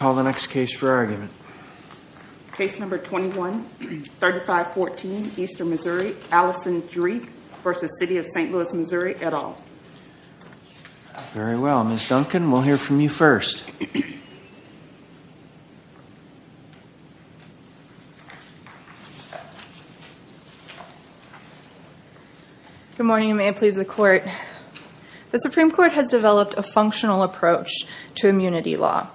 Call the next case for argument. Case number 21-3514, Eastern Missouri. Allison Dreith v. City of St. Louis, Missouri, et al. Very well. Ms. Duncan, we'll hear from you first. Good morning. May it please the court. The Supreme Court has developed a functional approach to immunity law.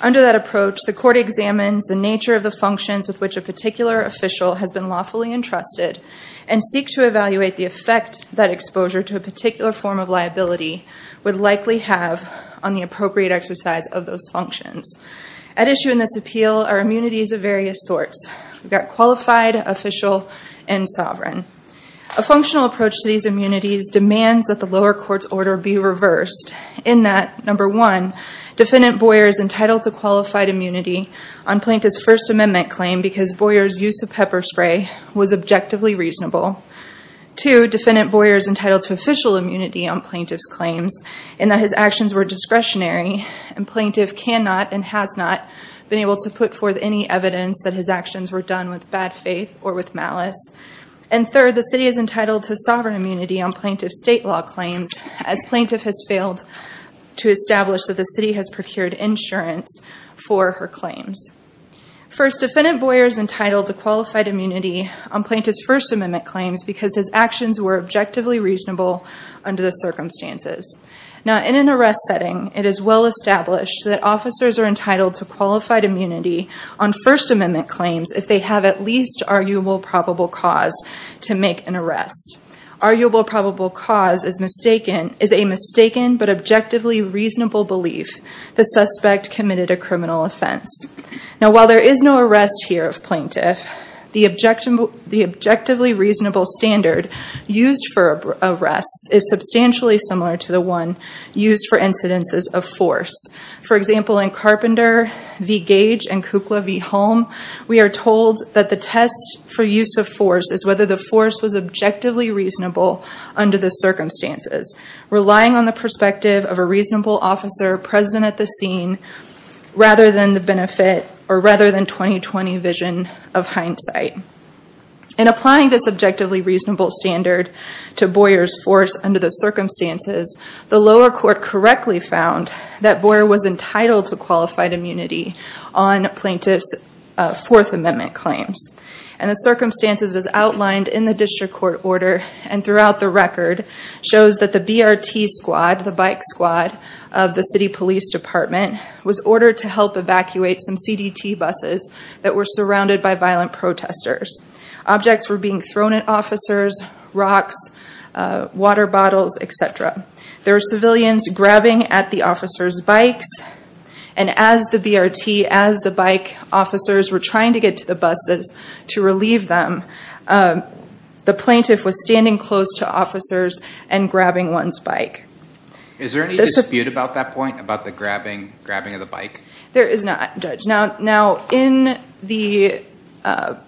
Under that approach, the court examines the nature of the functions with which a particular official has been lawfully entrusted and seek to evaluate the effect that exposure to a particular form of liability would likely have on the appropriate exercise of those functions. At issue in this appeal are immunities of various sorts. We've got qualified, official, and sovereign. A functional approach to these immunities demands that the lower court's order be reversed in that, number one, Two, defendant Boyer is entitled to official immunity on plaintiff's claims in that his actions were discretionary and plaintiff cannot and has not been able to put forth any evidence that his actions were done with bad faith or with malice. And third, the city is entitled to sovereign immunity on plaintiff's state law claims as plaintiff has failed to establish that the city has procured insurance for her claims. First, defendant Boyer is entitled to qualified immunity on plaintiff's First Amendment claims because his actions were objectively reasonable under the circumstances. Now, in an arrest setting, it is well established that officers are entitled to qualified immunity on First Amendment claims if they have at least arguable probable cause to make an arrest. Arguable probable cause is a mistaken but objectively reasonable belief the suspect committed a criminal offense. Now, while there is no arrest here of plaintiff, the objectively reasonable standard used for arrests is substantially similar to the one used for incidences of force. For example, in Carpenter v. Gage and Kukla v. Holm, we are told that the test for use of force is whether the force was objectively reasonable under the circumstances, relying on the perspective of a reasonable officer present at the scene rather than the benefit or rather than 20-20 vision of hindsight. In applying this objectively reasonable standard to Boyer's force under the circumstances, the lower court correctly found that Boyer was entitled to qualified immunity on plaintiff's Fourth Amendment claims. And the circumstances as outlined in the district court order and throughout the record shows that the BRT squad, the bike squad of the city police department, was ordered to help evacuate some CDT buses that were surrounded by violent protesters. Objects were being thrown at officers, rocks, water bottles, etc. And as the BRT, as the bike officers were trying to get to the buses to relieve them, the plaintiff was standing close to officers and grabbing one's bike. Is there any dispute about that point, about the grabbing of the bike? There is not, Judge. Now, in the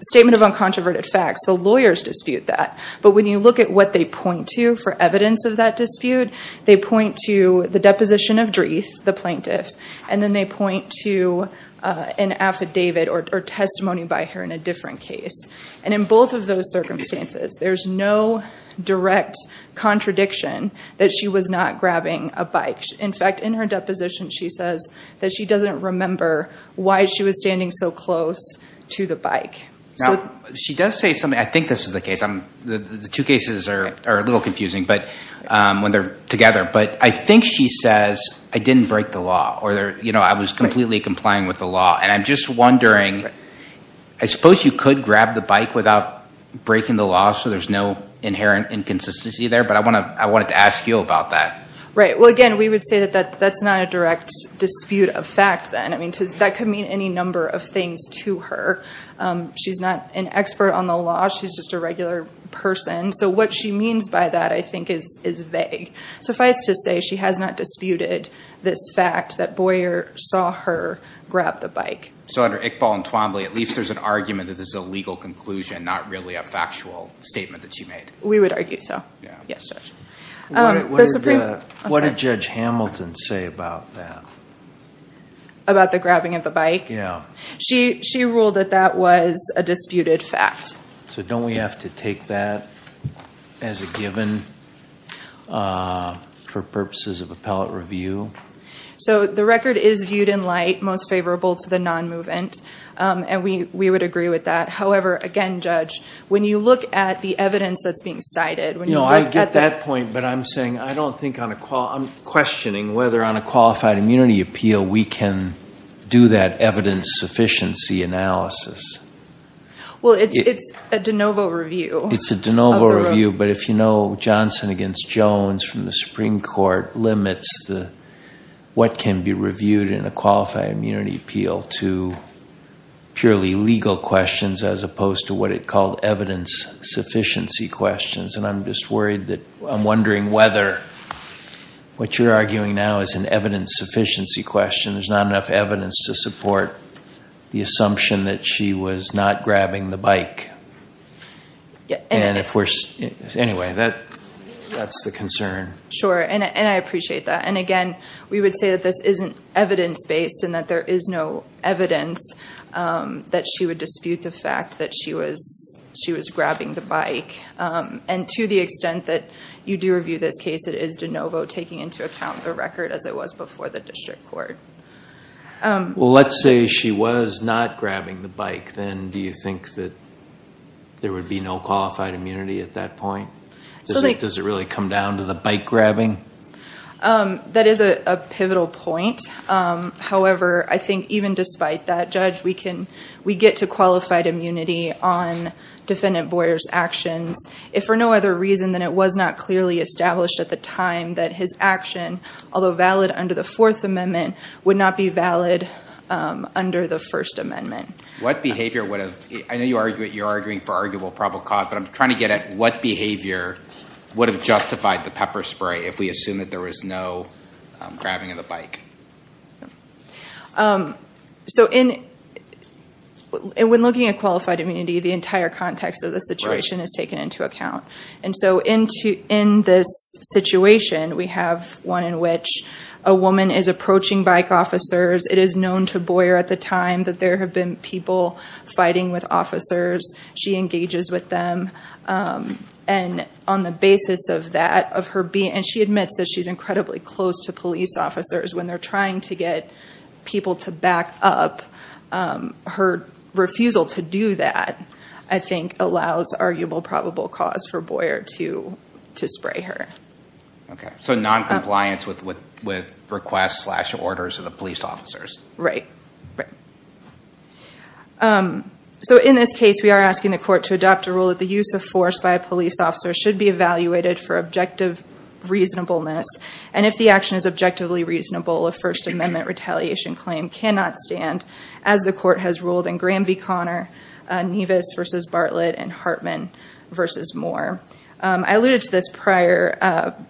Statement of Uncontroverted Facts, the lawyers dispute that. But when you look at what they point to for evidence of that dispute, they point to the deposition of Dreeth, the plaintiff, and then they point to an affidavit or testimony by her in a different case. And in both of those circumstances, there's no direct contradiction that she was not grabbing a bike. In fact, in her deposition, she says that she doesn't remember why she was standing so close to the bike. Now, she does say something. I think this is the case. The two cases are a little confusing when they're together. But I think she says, I didn't break the law, or I was completely complying with the law. And I'm just wondering, I suppose you could grab the bike without breaking the law, so there's no inherent inconsistency there, but I wanted to ask you about that. Well, again, we would say that that's not a direct dispute of fact then. That could mean any number of things to her. She's not an expert on the law. She's just a regular person. So what she means by that, I think, is vague. Suffice to say, she has not disputed this fact that Boyer saw her grab the bike. So under Iqbal and Twombly, at least there's an argument that this is a legal conclusion, not really a factual statement that she made. We would argue so. What did Judge Hamilton say about that? About the grabbing of the bike? Yeah. She ruled that that was a disputed fact. So don't we have to take that as a given for purposes of appellate review? So the record is viewed in light, most favorable to the non-movement. And we would agree with that. However, again, Judge, when you look at the evidence that's being cited, when you look at the- No, I get that point, but I'm saying I don't think on a qual- Well, it's a de novo review. It's a de novo review, but if you know Johnson against Jones from the Supreme Court limits what can be reviewed in a qualified immunity appeal to purely legal questions as opposed to what it called evidence-sufficiency questions. And I'm just worried that I'm wondering whether what you're arguing now is an evidence-sufficiency question. There's not enough evidence to support the assumption that she was not grabbing the bike. And if we're- Anyway, that's the concern. Sure, and I appreciate that. And again, we would say that this isn't evidence-based and that there is no evidence that she would dispute the fact that she was grabbing the bike. And to the extent that you do review this case, it is de novo taking into account the record as it was before the district court. Well, let's say she was not grabbing the bike. Then do you think that there would be no qualified immunity at that point? Does it really come down to the bike grabbing? That is a pivotal point. However, I think even despite that, Judge, we get to qualified immunity on defendant Boyer's actions if for no other reason than it was not clearly established at the time that his action, although valid under the Fourth Amendment, would not be valid under the First Amendment. What behavior would have- I know you're arguing for arguable probable cause, but I'm trying to get at what behavior would have justified the pepper spray if we assume that there was no grabbing of the bike? So when looking at qualified immunity, the entire context of the situation is taken into account. And so in this situation, we have one in which a woman is approaching bike officers. It is known to Boyer at the time that there have been people fighting with officers. She engages with them. And on the basis of that, of her being- and she admits that she's incredibly close to police officers when they're trying to get people to back up. Her refusal to do that, I think, allows arguable probable cause for Boyer to spray her. So noncompliance with requests slash orders of the police officers. Right. So in this case, we are asking the court to adopt a rule that the use of force by a police officer should be evaluated for objective reasonableness. And if the action is objectively reasonable, a First Amendment retaliation claim cannot stand, as the court has ruled in Graham v. Connor, Nevis v. Bartlett, and Hartman v. Moore. I alluded to this prior,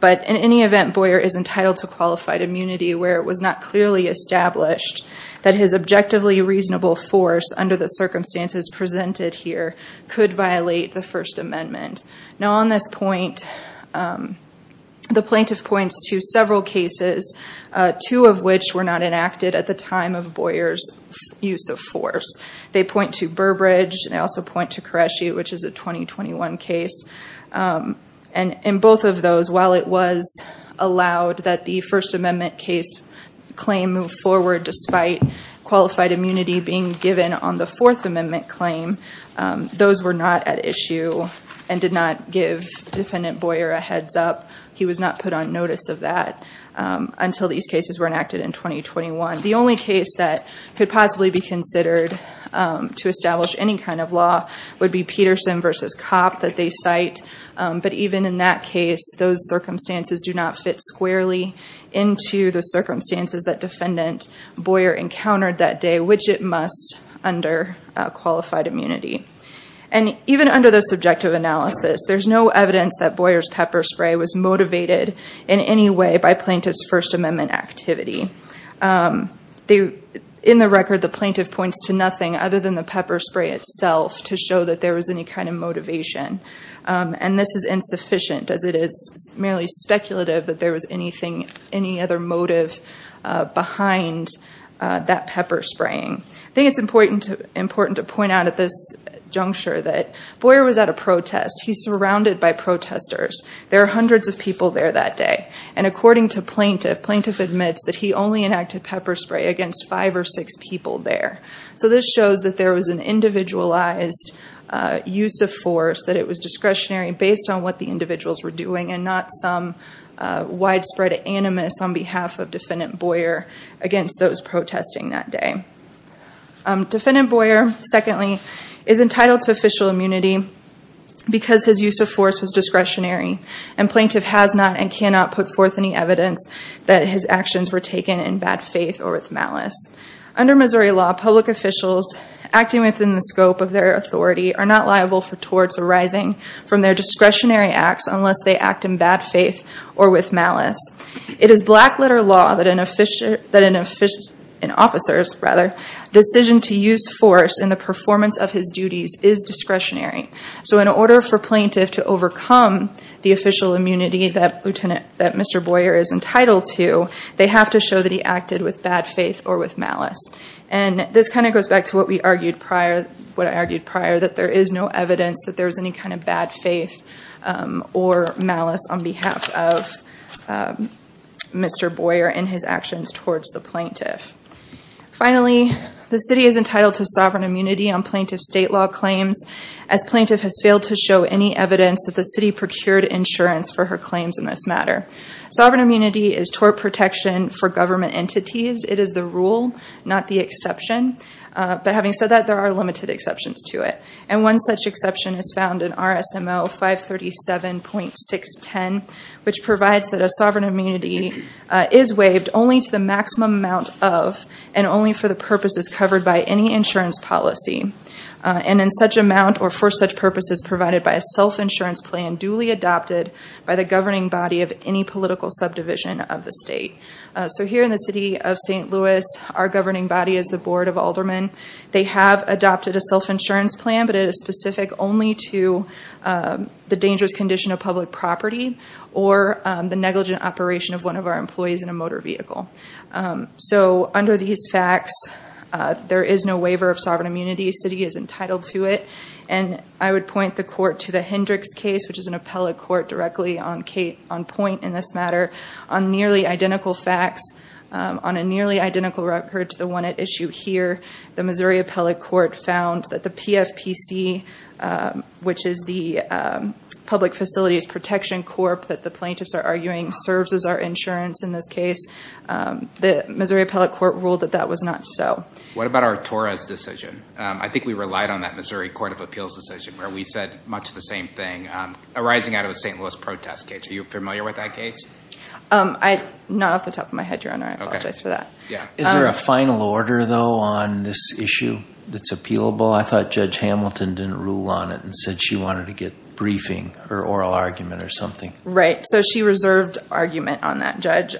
but in any event, Boyer is entitled to qualified immunity where it was not clearly established that his objectively reasonable force, under the circumstances presented here, could violate the First Amendment. Now on this point, the plaintiff points to several cases, two of which were not enacted at the time of Boyer's use of force. They point to Burbridge, and they also point to Koreshi, which is a 2021 case. And in both of those, while it was allowed that the First Amendment case claim move forward, despite qualified immunity being given on the Fourth Amendment claim, those were not at issue and did not give Defendant Boyer a heads up. He was not put on notice of that until these cases were enacted in 2021. The only case that could possibly be considered to establish any kind of law would be Peterson v. Kopp that they cite. But even in that case, those circumstances do not fit squarely into the circumstances that Defendant Boyer encountered that day, which it must under qualified immunity. And even under the subjective analysis, there's no evidence that Boyer's pepper spray was motivated in any way by plaintiff's First Amendment activity. In the record, the plaintiff points to nothing other than the pepper spray itself to show that there was any kind of motivation. And this is insufficient, as it is merely speculative that there was anything, any other motive behind that pepper spraying. I think it's important to point out at this juncture that Boyer was at a protest. He's surrounded by protesters. There are hundreds of people there that day. And according to plaintiff, plaintiff admits that he only enacted pepper spray against five or six people there. So this shows that there was an individualized use of force, that it was discretionary based on what the individuals were doing and not some widespread animus on behalf of Defendant Boyer against those protesting that day. Defendant Boyer, secondly, is entitled to official immunity because his use of force was discretionary. And plaintiff has not and cannot put forth any evidence that his actions were taken in bad faith or with malice. Under Missouri law, public officials acting within the scope of their authority are not liable for torts arising from their discretionary acts unless they act in bad faith or with malice. It is black letter law that an officer's decision to use force in the performance of his duties is discretionary. So in order for plaintiff to overcome the official immunity that Mr. Boyer is entitled to, they have to show that he acted with bad faith or with malice. And this kind of goes back to what I argued prior, that there is no evidence that there was any kind of bad faith or malice on behalf of Mr. Boyer in his actions towards the plaintiff. Finally, the city is entitled to sovereign immunity on plaintiff's state law claims as plaintiff has failed to show any evidence that the city procured insurance for her claims in this matter. Sovereign immunity is tort protection for government entities. It is the rule, not the exception. But having said that, there are limited exceptions to it. And one such exception is found in RSMO 537.610, which provides that a sovereign immunity is waived only to the maximum amount of and only for the purposes covered by any insurance policy. And in such amount or for such purposes provided by a self-insurance plan duly adopted by the governing body of any political subdivision of the state. So here in the city of St. Louis, our governing body is the Board of Aldermen. They have adopted a self-insurance plan, but it is specific only to the dangerous condition of public property or the negligent operation of one of our employees in a motor vehicle. So under these facts, there is no waiver of sovereign immunity. The city is entitled to it. And I would point the court to the Hendricks case, which is an appellate court directly on point in this matter. On nearly identical facts, on a nearly identical record to the one at issue here, the Missouri Appellate Court found that the PFPC, which is the Public Facilities Protection Corp that the plaintiffs are arguing serves as our insurance in this case. The Missouri Appellate Court ruled that that was not so. What about Artora's decision? I think we relied on that Missouri Court of Appeals decision where we said much the same thing arising out of a St. Louis protest case. Are you familiar with that case? Not off the top of my head, Your Honor. I apologize for that. Is there a final order, though, on this issue that's appealable? I thought Judge Hamilton didn't rule on it and said she wanted to get briefing or oral argument or something. Right. So she reserved argument on that, Judge.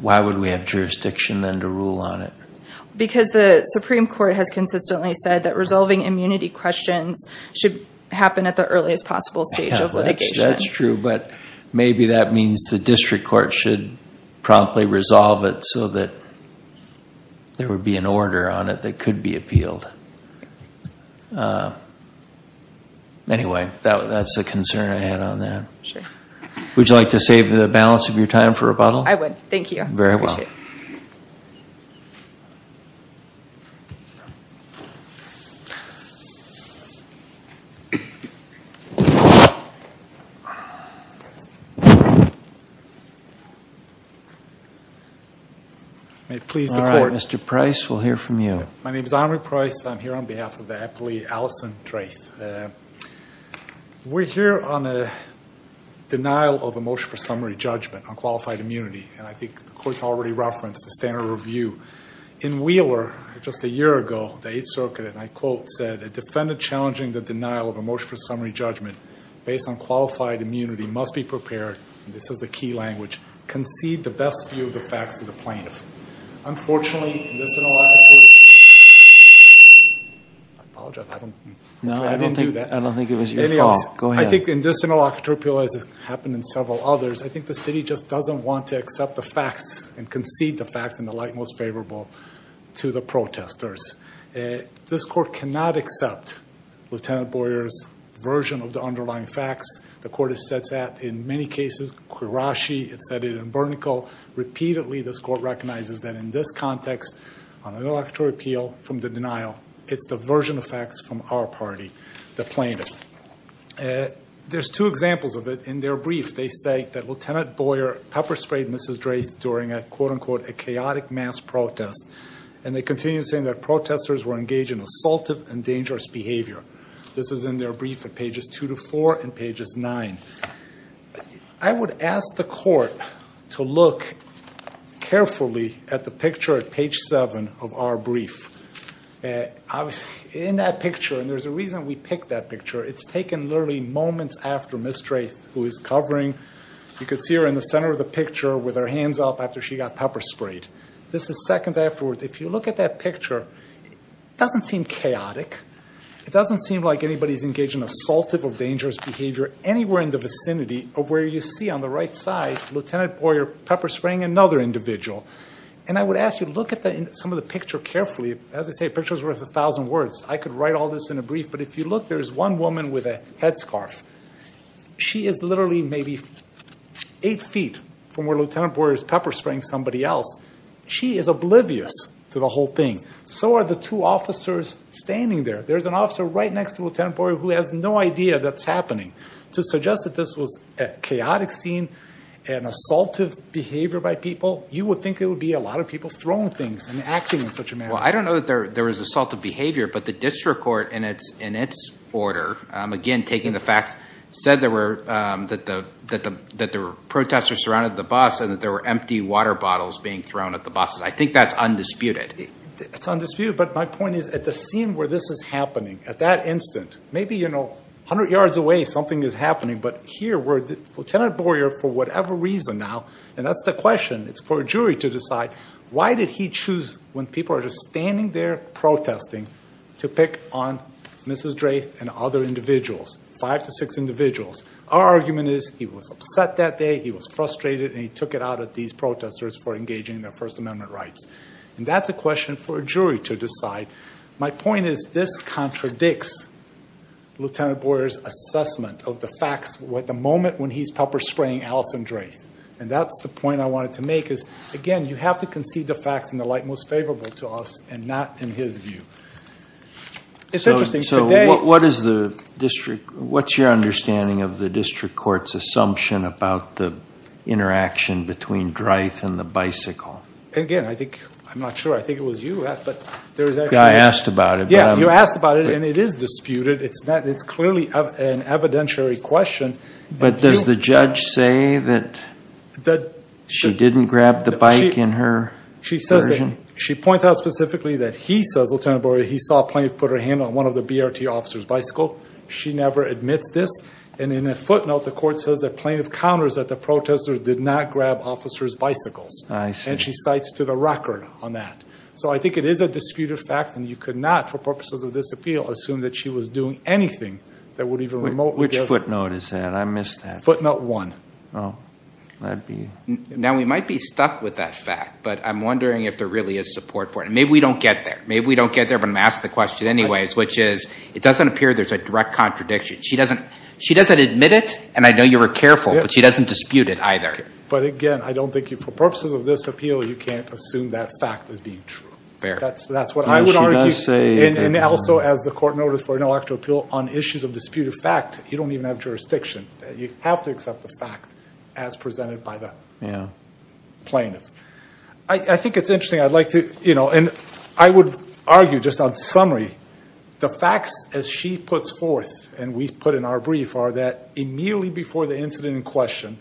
Why would we have jurisdiction then to rule on it? Because the Supreme Court has consistently said that resolving immunity questions should happen at the earliest possible stage of litigation. That's true, but maybe that means the district court should promptly resolve it so that there would be an order on it that could be appealed. Anyway, that's the concern I had on that. Would you like to save the balance of your time for rebuttal? I would. Thank you. Very well. Thank you. May it please the Court. All right, Mr. Price, we'll hear from you. My name is Omri Price. I'm here on behalf of the appellee, Alison Drath. We're here on a denial of a motion for summary judgment on qualified immunity, and I think the Court's already referenced the standard review. In Wheeler, just a year ago, the Eighth Circuit, and I quote, said, a defendant challenging the denial of a motion for summary judgment based on qualified immunity must be prepared, and this is the key language, concede the best view of the facts to the plaintiff. Unfortunately, in this interlocutory appeal, I apologize. I didn't do that. No, I don't think it was your fault. Go ahead. I think in this interlocutory appeal, as has happened in several others, I think the city just doesn't want to accept the facts and concede the facts in the light most favorable to the protesters. This Court cannot accept Lieutenant Boyer's version of the underlying facts. The Court has said that in many cases, Quirashi, it said it in Burnicle. Repeatedly, this Court recognizes that in this context, on an interlocutory appeal from the denial, it's the version of facts from our party, the plaintiff. There's two examples of it. In their brief, they say that Lieutenant Boyer pepper-sprayed Mrs. Drath during a, quote-unquote, a chaotic mass protest, and they continue saying that protesters were engaged in assaultive and dangerous behavior. This is in their brief at pages 2 to 4 and pages 9. I would ask the Court to look carefully at the picture at page 7 of our brief. In that picture, and there's a reason we picked that picture, it's taken literally moments after Ms. Drath, who is covering, you could see her in the center of the picture with her hands up after she got pepper-sprayed. This is seconds afterwards. If you look at that picture, it doesn't seem chaotic. It doesn't seem like anybody's engaged in assaultive or dangerous behavior anywhere in the vicinity of where you see on the right side, Lieutenant Boyer pepper-spraying another individual. And I would ask you to look at some of the picture carefully. As I say, a picture is worth a thousand words. I could write all this in a brief, but if you look, there's one woman with a headscarf. She is literally maybe eight feet from where Lieutenant Boyer is pepper-spraying somebody else. She is oblivious to the whole thing. So are the two officers standing there. There's an officer right next to Lieutenant Boyer who has no idea that's happening. To suggest that this was a chaotic scene and assaultive behavior by people, you would think it would be a lot of people throwing things and acting in such a manner. Well, I don't know that there was assaultive behavior, but the district court in its order, again, taking the facts, said that the protesters surrounded the bus and that there were empty water bottles being thrown at the buses. I think that's undisputed. It's undisputed, but my point is at the scene where this is happening, at that instant, maybe, you know, 100 yards away something is happening, but here where Lieutenant Boyer, for whatever reason now, and that's the question, it's for a jury to decide why did he choose, when people are just standing there protesting, to pick on Mrs. Drath and other individuals, five to six individuals. Our argument is he was upset that day, he was frustrated, and he took it out at these protesters for engaging in their First Amendment rights. And that's a question for a jury to decide. My point is this contradicts Lieutenant Boyer's assessment of the facts at the moment when he's pepper-spraying Allison Drath. And that's the point I wanted to make is, again, you have to concede the facts in the light most favorable to us and not in his view. It's interesting. So what is the district, what's your understanding of the district court's assumption about the interaction between Drath and the bicycle? Again, I think, I'm not sure, I think it was you who asked, but there is actually. I asked about it. Yeah, you asked about it, and it is disputed. It's clearly an evidentiary question. But does the judge say that she didn't grab the bike in her version? She points out specifically that he says, Lieutenant Boyer, he saw a plaintiff put her hand on one of the BRT officers' bicycle. She never admits this. And in a footnote, the court says the plaintiff counters that the protester did not grab officers' bicycles. I see. And she cites to the record on that. So I think it is a disputed fact, and you could not, for purposes of this appeal, assume that she was doing anything that would even remotely give her. Which footnote is that? I missed that. Footnote one. Oh, that would be. Now, we might be stuck with that fact, but I'm wondering if there really is support for it. And maybe we don't get there. Maybe we don't get there, but I'm going to ask the question anyways, which is it doesn't appear there's a direct contradiction. She doesn't admit it, and I know you were careful, but she doesn't dispute it either. But, again, I don't think you, for purposes of this appeal, you can't assume that fact as being true. That's what I would argue. And also, as the court noted for intellectual appeal, on issues of disputed fact, you don't even have jurisdiction. You have to accept the fact as presented by the plaintiff. I think it's interesting. I would argue, just on summary, the facts, as she puts forth and we put in our brief, are that immediately before the incident in question,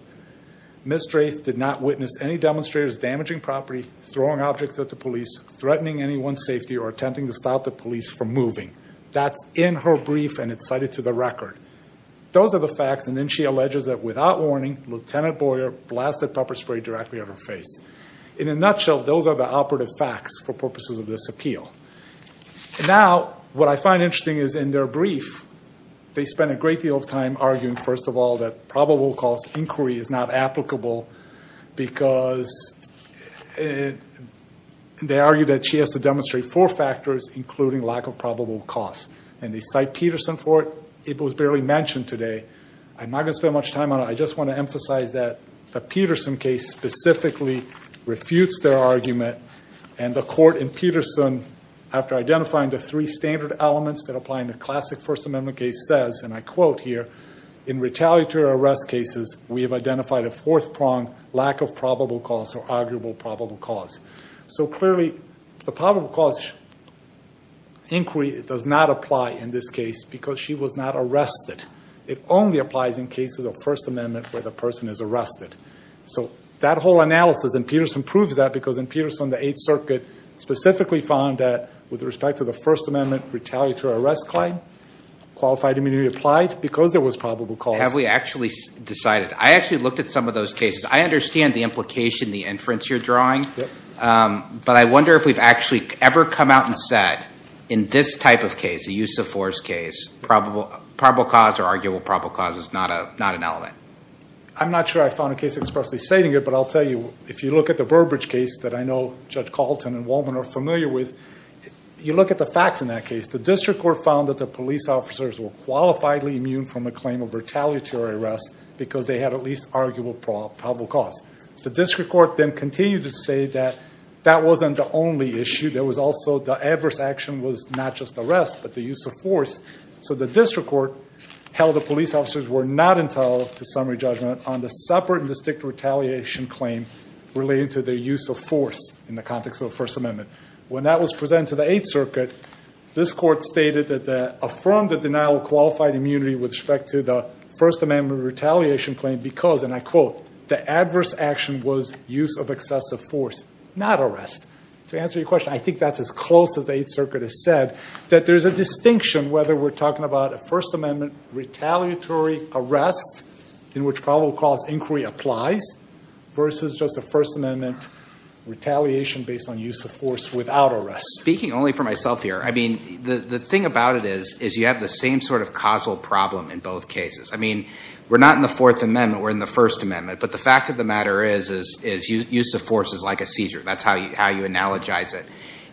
Ms. Drath did not witness any demonstrators damaging property, throwing objects at the police, threatening anyone's safety, or attempting to stop the police from moving. That's in her brief, and it's cited to the record. Those are the facts. And then she alleges that, without warning, Lieutenant Boyer blasted pepper spray directly at her face. In a nutshell, those are the operative facts for purposes of this appeal. Now, what I find interesting is, in their brief, they spent a great deal of time arguing, first of all, that probable cause inquiry is not applicable because they argue that she has to demonstrate four factors, including lack of probable cause. And they cite Peterson for it. It was barely mentioned today. I'm not going to spend much time on it. I just want to emphasize that the Peterson case specifically refutes their argument, and the court in Peterson, after identifying the three standard elements that apply in the classic First Amendment case, says, and I quote here, in retaliatory arrest cases, we have identified a fourth prong, lack of probable cause or arguable probable cause. So, clearly, the probable cause inquiry does not apply in this case because she was not arrested. It only applies in cases of First Amendment where the person is arrested. So that whole analysis, and Peterson proves that, because in Peterson, the Eighth Circuit specifically found that, with respect to the First Amendment retaliatory arrest claim, qualified immunity applied because there was probable cause. Have we actually decided? I actually looked at some of those cases. I understand the implication, the inference you're drawing. Yep. But I wonder if we've actually ever come out and said, in this type of case, a use of force case, probable cause or arguable probable cause is not an element. I'm not sure I found a case expressly stating it, but I'll tell you, if you look at the Burbridge case that I know Judge Calton and Wolman are familiar with, you look at the facts in that case. The district court found that the police officers were qualifiably immune from a claim of retaliatory arrest because they had at least arguable probable cause. The district court then continued to say that that wasn't the only issue. There was also the adverse action was not just arrest but the use of force. So the district court held the police officers were not entitled to summary judgment on the separate and distinct retaliation claim relating to their use of force in the context of the First Amendment. When that was presented to the Eighth Circuit, this court stated that they affirmed the denial of qualified immunity with respect to the First Amendment retaliation claim because, and I quote, the adverse action was use of excessive force, not arrest. To answer your question, I think that's as close as the Eighth Circuit has said, that there's a distinction whether we're talking about a First Amendment retaliatory arrest in which probable cause inquiry applies versus just a First Amendment retaliation based on use of force without arrest. Speaking only for myself here, I mean, the thing about it is you have the same sort of causal problem in both cases. I mean, we're not in the Fourth Amendment. We're in the First Amendment. But the fact of the matter is use of force is like a seizure. That's how you analogize it.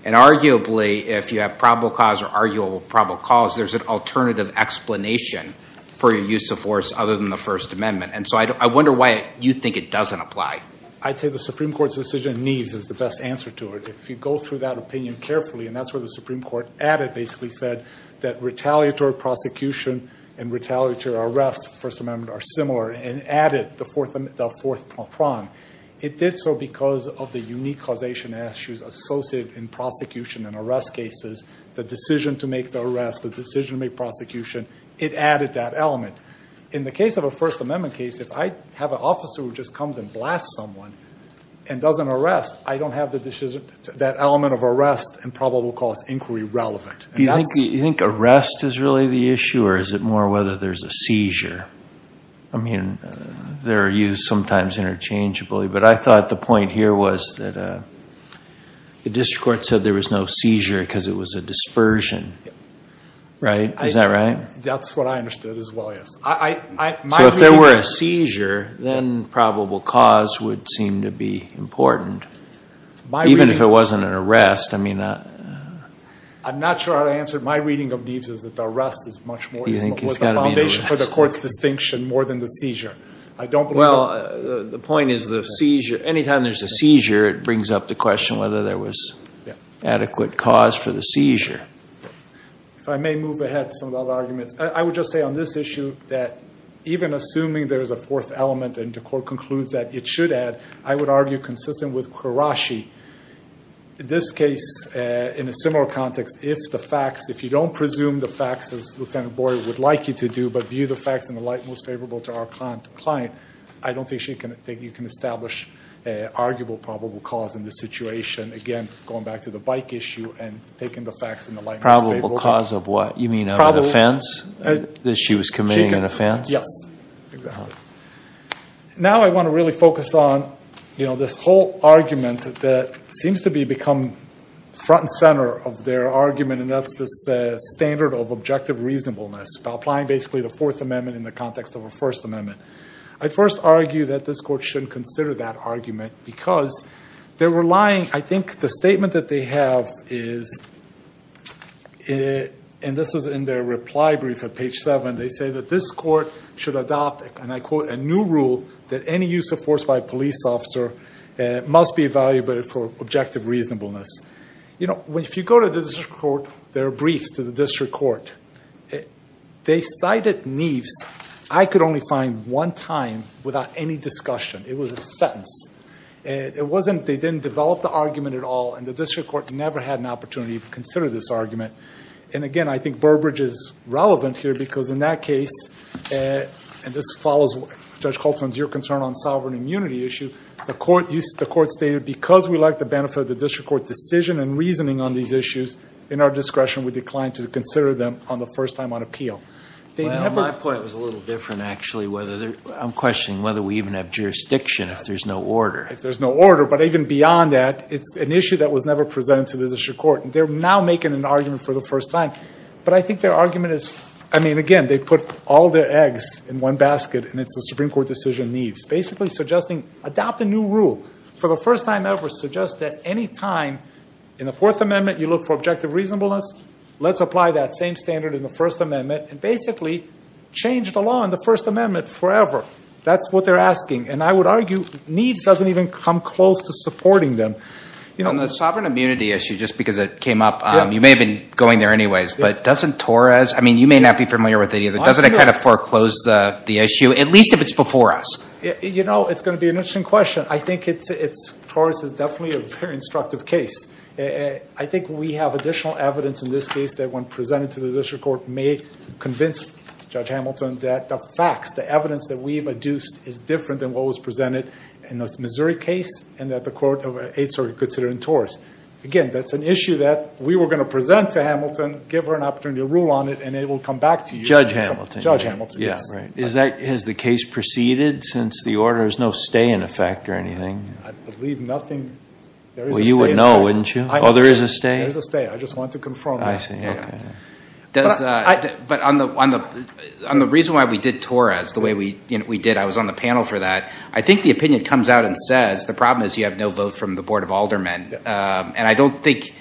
And arguably, if you have probable cause or arguable probable cause, there's an alternative explanation for your use of force other than the First Amendment. And so I wonder why you think it doesn't apply. I'd say the Supreme Court's decision in Neves is the best answer to it. If you go through that opinion carefully, and that's where the Supreme Court added basically said that retaliatory prosecution and retaliatory arrest in the First Amendment are similar and added the fourth prong. It did so because of the unique causation issues associated in prosecution and arrest cases, the decision to make the arrest, the decision to make prosecution. It added that element. In the case of a First Amendment case, if I have an officer who just comes and blasts someone and doesn't arrest, I don't have that element of arrest and probable cause inquiry relevant. Do you think arrest is really the issue, or is it more whether there's a seizure? I mean, they're used sometimes interchangeably. But I thought the point here was that the district court said there was no seizure because it was a dispersion. Right? Is that right? That's what I understood as well, yes. So if there were a seizure, then probable cause would seem to be important. Even if it wasn't an arrest. I'm not sure how to answer it. My reading of Neves is that the arrest was the foundation for the court's distinction more than the seizure. Well, the point is the seizure. Anytime there's a seizure, it brings up the question whether there was adequate cause for the seizure. If I may move ahead to some of the other arguments. I would just say on this issue that even assuming there's a fourth element and the court concludes that it should add, I would argue consistent with Qureshi, this case in a similar context, if the facts, if you don't presume the facts as Lieutenant Boyd would like you to do, but view the facts in the light most favorable to our client, I don't think you can establish an arguable probable cause in this situation. Again, going back to the bike issue and taking the facts in the light most favorable. Probable cause of what? You mean an offense? That she was committing an offense? Yes. Now I want to really focus on this whole argument that seems to become front and center of their argument, and that's this standard of objective reasonableness, about applying basically the Fourth Amendment in the context of a First Amendment. I first argue that this court shouldn't consider that argument because they're relying, I think the statement that they have is, and this is in their reply brief at page seven, they say that this court should adopt, and I quote, a new rule that any use of force by a police officer must be evaluated for objective reasonableness. You know, if you go to the district court, there are briefs to the district court. They cited Neves. I could only find one time without any discussion. It was a sentence. It wasn't, they didn't develop the argument at all, and the district court never had an opportunity to consider this argument. And, again, I think Burbridge is relevant here because in that case, and this follows Judge Holtzman's, your concern on sovereign immunity issue, the court stated because we like the benefit of the district court decision and reasoning on these issues, in our discretion we decline to consider them on the first time on appeal. Well, my point was a little different, actually. I'm questioning whether we even have jurisdiction if there's no order. If there's no order, but even beyond that, it's an issue that was never presented to the district court, and they're now making an argument for the first time. But I think their argument is, I mean, again, they put all their eggs in one basket, and it's a Supreme Court decision, Neves, basically suggesting adopt a new rule for the first time ever, suggest that any time in the Fourth Amendment you look for objective reasonableness, let's apply that same standard in the First Amendment and basically change the law in the First Amendment forever. That's what they're asking, and I would argue Neves doesn't even come close to supporting them. On the sovereign immunity issue, just because it came up, you may have been going there anyways, but doesn't Torres, I mean, you may not be familiar with it either, doesn't it kind of foreclose the issue, at least if it's before us? You know, it's going to be an interesting question. I think Torres is definitely a very instructive case. I think we have additional evidence in this case that when presented to the district court may convince Judge Hamilton that the facts, the evidence that we've adduced is different than what was presented in the Missouri case and that the court of Eighth Circuit considered in Torres. Again, that's an issue that we were going to present to Hamilton, give her an opportunity to rule on it, and it will come back to you. Judge Hamilton. Judge Hamilton, yes. Has the case proceeded since the order? There's no stay in effect or anything? I believe nothing. Well, you would know, wouldn't you? Oh, there is a stay? There is a stay. I just wanted to confirm that. I see. Okay. But on the reason why we did Torres the way we did, I was on the panel for that, I think the opinion comes out and says the problem is you have no vote from the Board of Aldermen, and I don't think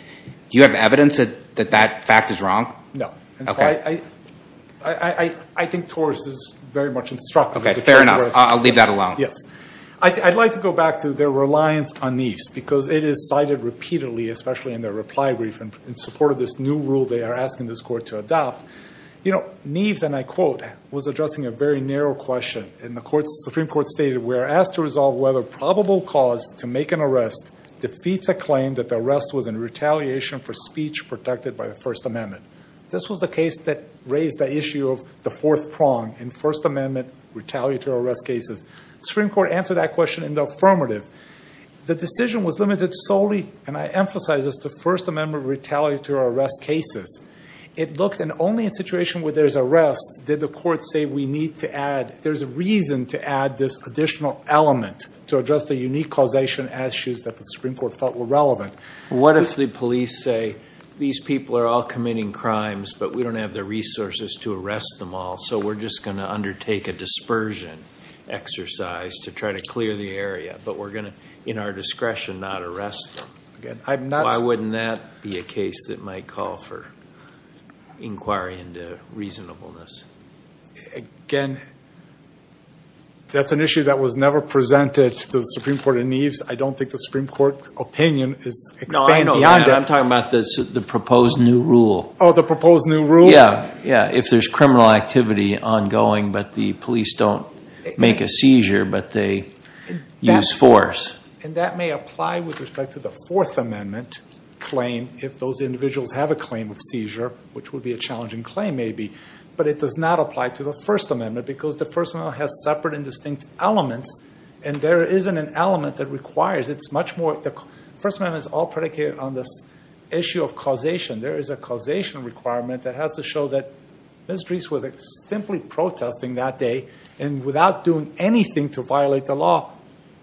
you have evidence that that fact is wrong? No. Okay. I think Torres is very much instructive. Okay, fair enough. I'll leave that alone. Yes. I'd like to go back to their reliance on Neves because it is cited repeatedly, especially in their reply brief, in support of this new rule they are asking this court to adopt. You know, Neves, and I quote, was addressing a very narrow question, and the Supreme Court stated, we are asked to resolve whether probable cause to make an arrest defeats a claim that the arrest was in retaliation for speech protected by the First Amendment. This was the case that raised the issue of the fourth prong in First Amendment retaliatory arrest cases. The Supreme Court answered that question in the affirmative. The decision was limited solely, and I emphasize this, to First Amendment retaliatory arrest cases. It looked, and only in a situation where there's arrest did the court say we need to add, there's a reason to add this additional element to address the unique causation issues that the Supreme Court felt were relevant. What if the police say, these people are all committing crimes, but we don't have the resources to arrest them all, so we're just going to undertake a dispersion exercise to try to clear the area, but we're going to, in our discretion, not arrest them. Why wouldn't that be a case that might call for inquiry into reasonableness? Again, that's an issue that was never presented to the Supreme Court in Neves. I don't think the Supreme Court opinion is expanded beyond that. No, I'm talking about the proposed new rule. Oh, the proposed new rule? Yeah, if there's criminal activity ongoing, but the police don't make a seizure, but they use force. And that may apply with respect to the Fourth Amendment claim, if those individuals have a claim of seizure, which would be a challenging claim maybe, but it does not apply to the First Amendment because the First Amendment has separate and distinct elements, and there isn't an element that requires it. The First Amendment is all predicated on this issue of causation. There is a causation requirement that has to show that Ms. Dries was simply protesting that day and without doing anything to violate the law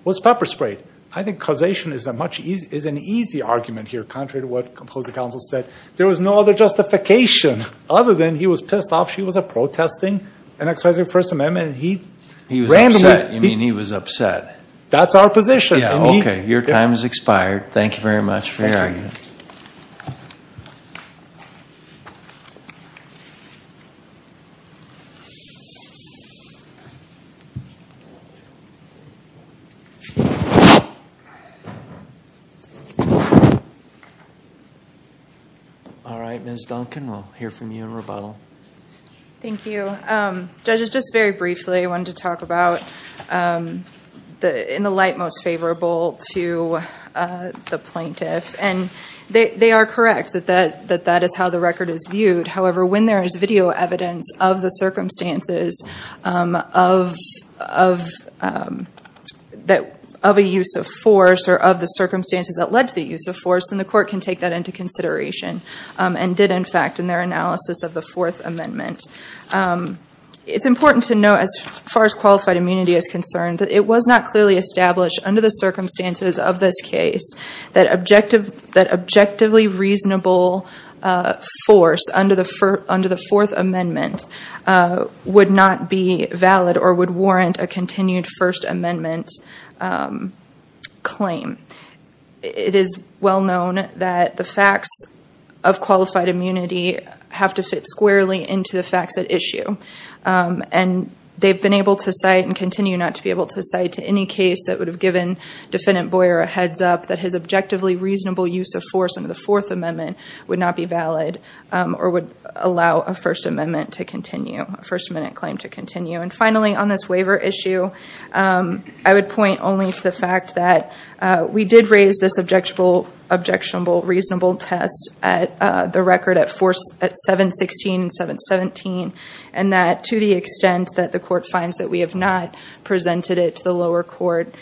was pepper sprayed. I think causation is an easy argument here, contrary to what the opposing counsel said. There was no other justification other than he was pissed off she was protesting and exercising the First Amendment. He was upset. You mean he was upset. That's our position. Okay, your time has expired. Thank you very much for your argument. All right, Ms. Duncan, we'll hear from you in rebuttal. Thank you. Judges, just very briefly I wanted to talk about in the light most favorable to the plaintiff, and they are correct that that is how the record is viewed. However, when there is video evidence of the circumstances of a use of force or of the circumstances that led to the use of force, then the court can take that into consideration and did in fact in their analysis of the Fourth Amendment. It's important to note as far as qualified immunity is concerned that it was not clearly established under the circumstances of this case that objectively reasonable force under the Fourth Amendment would not be valid or would warrant a continued First Amendment claim. It is well known that the facts of qualified immunity have to fit squarely into the facts at issue. And they've been able to cite and continue not to be able to cite to any case that would have given Defendant Boyer a heads up that his objectively reasonable use of force under the Fourth Amendment would not be valid or would allow a First Amendment claim to continue. And finally on this waiver issue, I would point only to the fact that we did raise this objectionable reasonable test at the record at 7-16 and 7-17 and that to the extent that the court finds that we have not presented it to the lower court,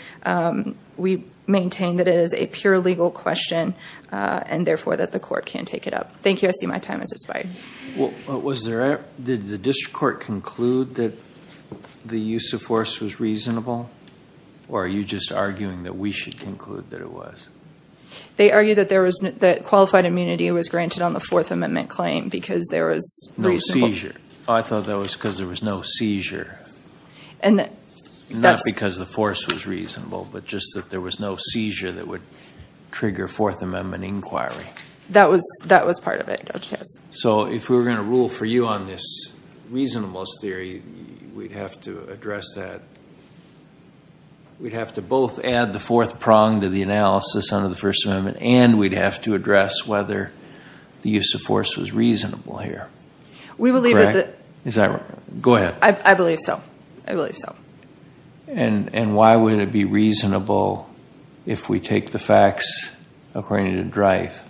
we maintain that it is a pure legal question and therefore that the court can take it up. Thank you. I see my time has expired. Did the district court conclude that the use of force was reasonable? Or are you just arguing that we should conclude that it was? They argue that qualified immunity was granted on the Fourth Amendment claim because there was... No seizure. I thought that was because there was no seizure. Not because the force was reasonable, but just that there was no seizure that would trigger Fourth Amendment inquiry. That was part of it. So if we were going to rule for you on this reasonableness theory, we'd have to address that. We'd have to both add the fourth prong to the analysis under the First Amendment and we'd have to address whether the use of force was reasonable here. We believe that... Is that right? Go ahead. I believe so. I believe so. And why would it be reasonable if we take the facts according to drive?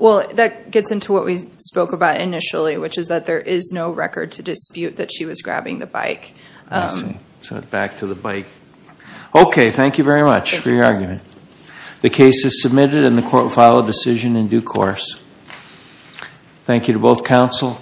Well, that gets into what we spoke about initially, which is that there is no record to dispute that she was grabbing the bike. I see. So back to the bike. Okay, thank you very much for your argument. The case is submitted and the court will file a decision in due course. Thank you to both counsel.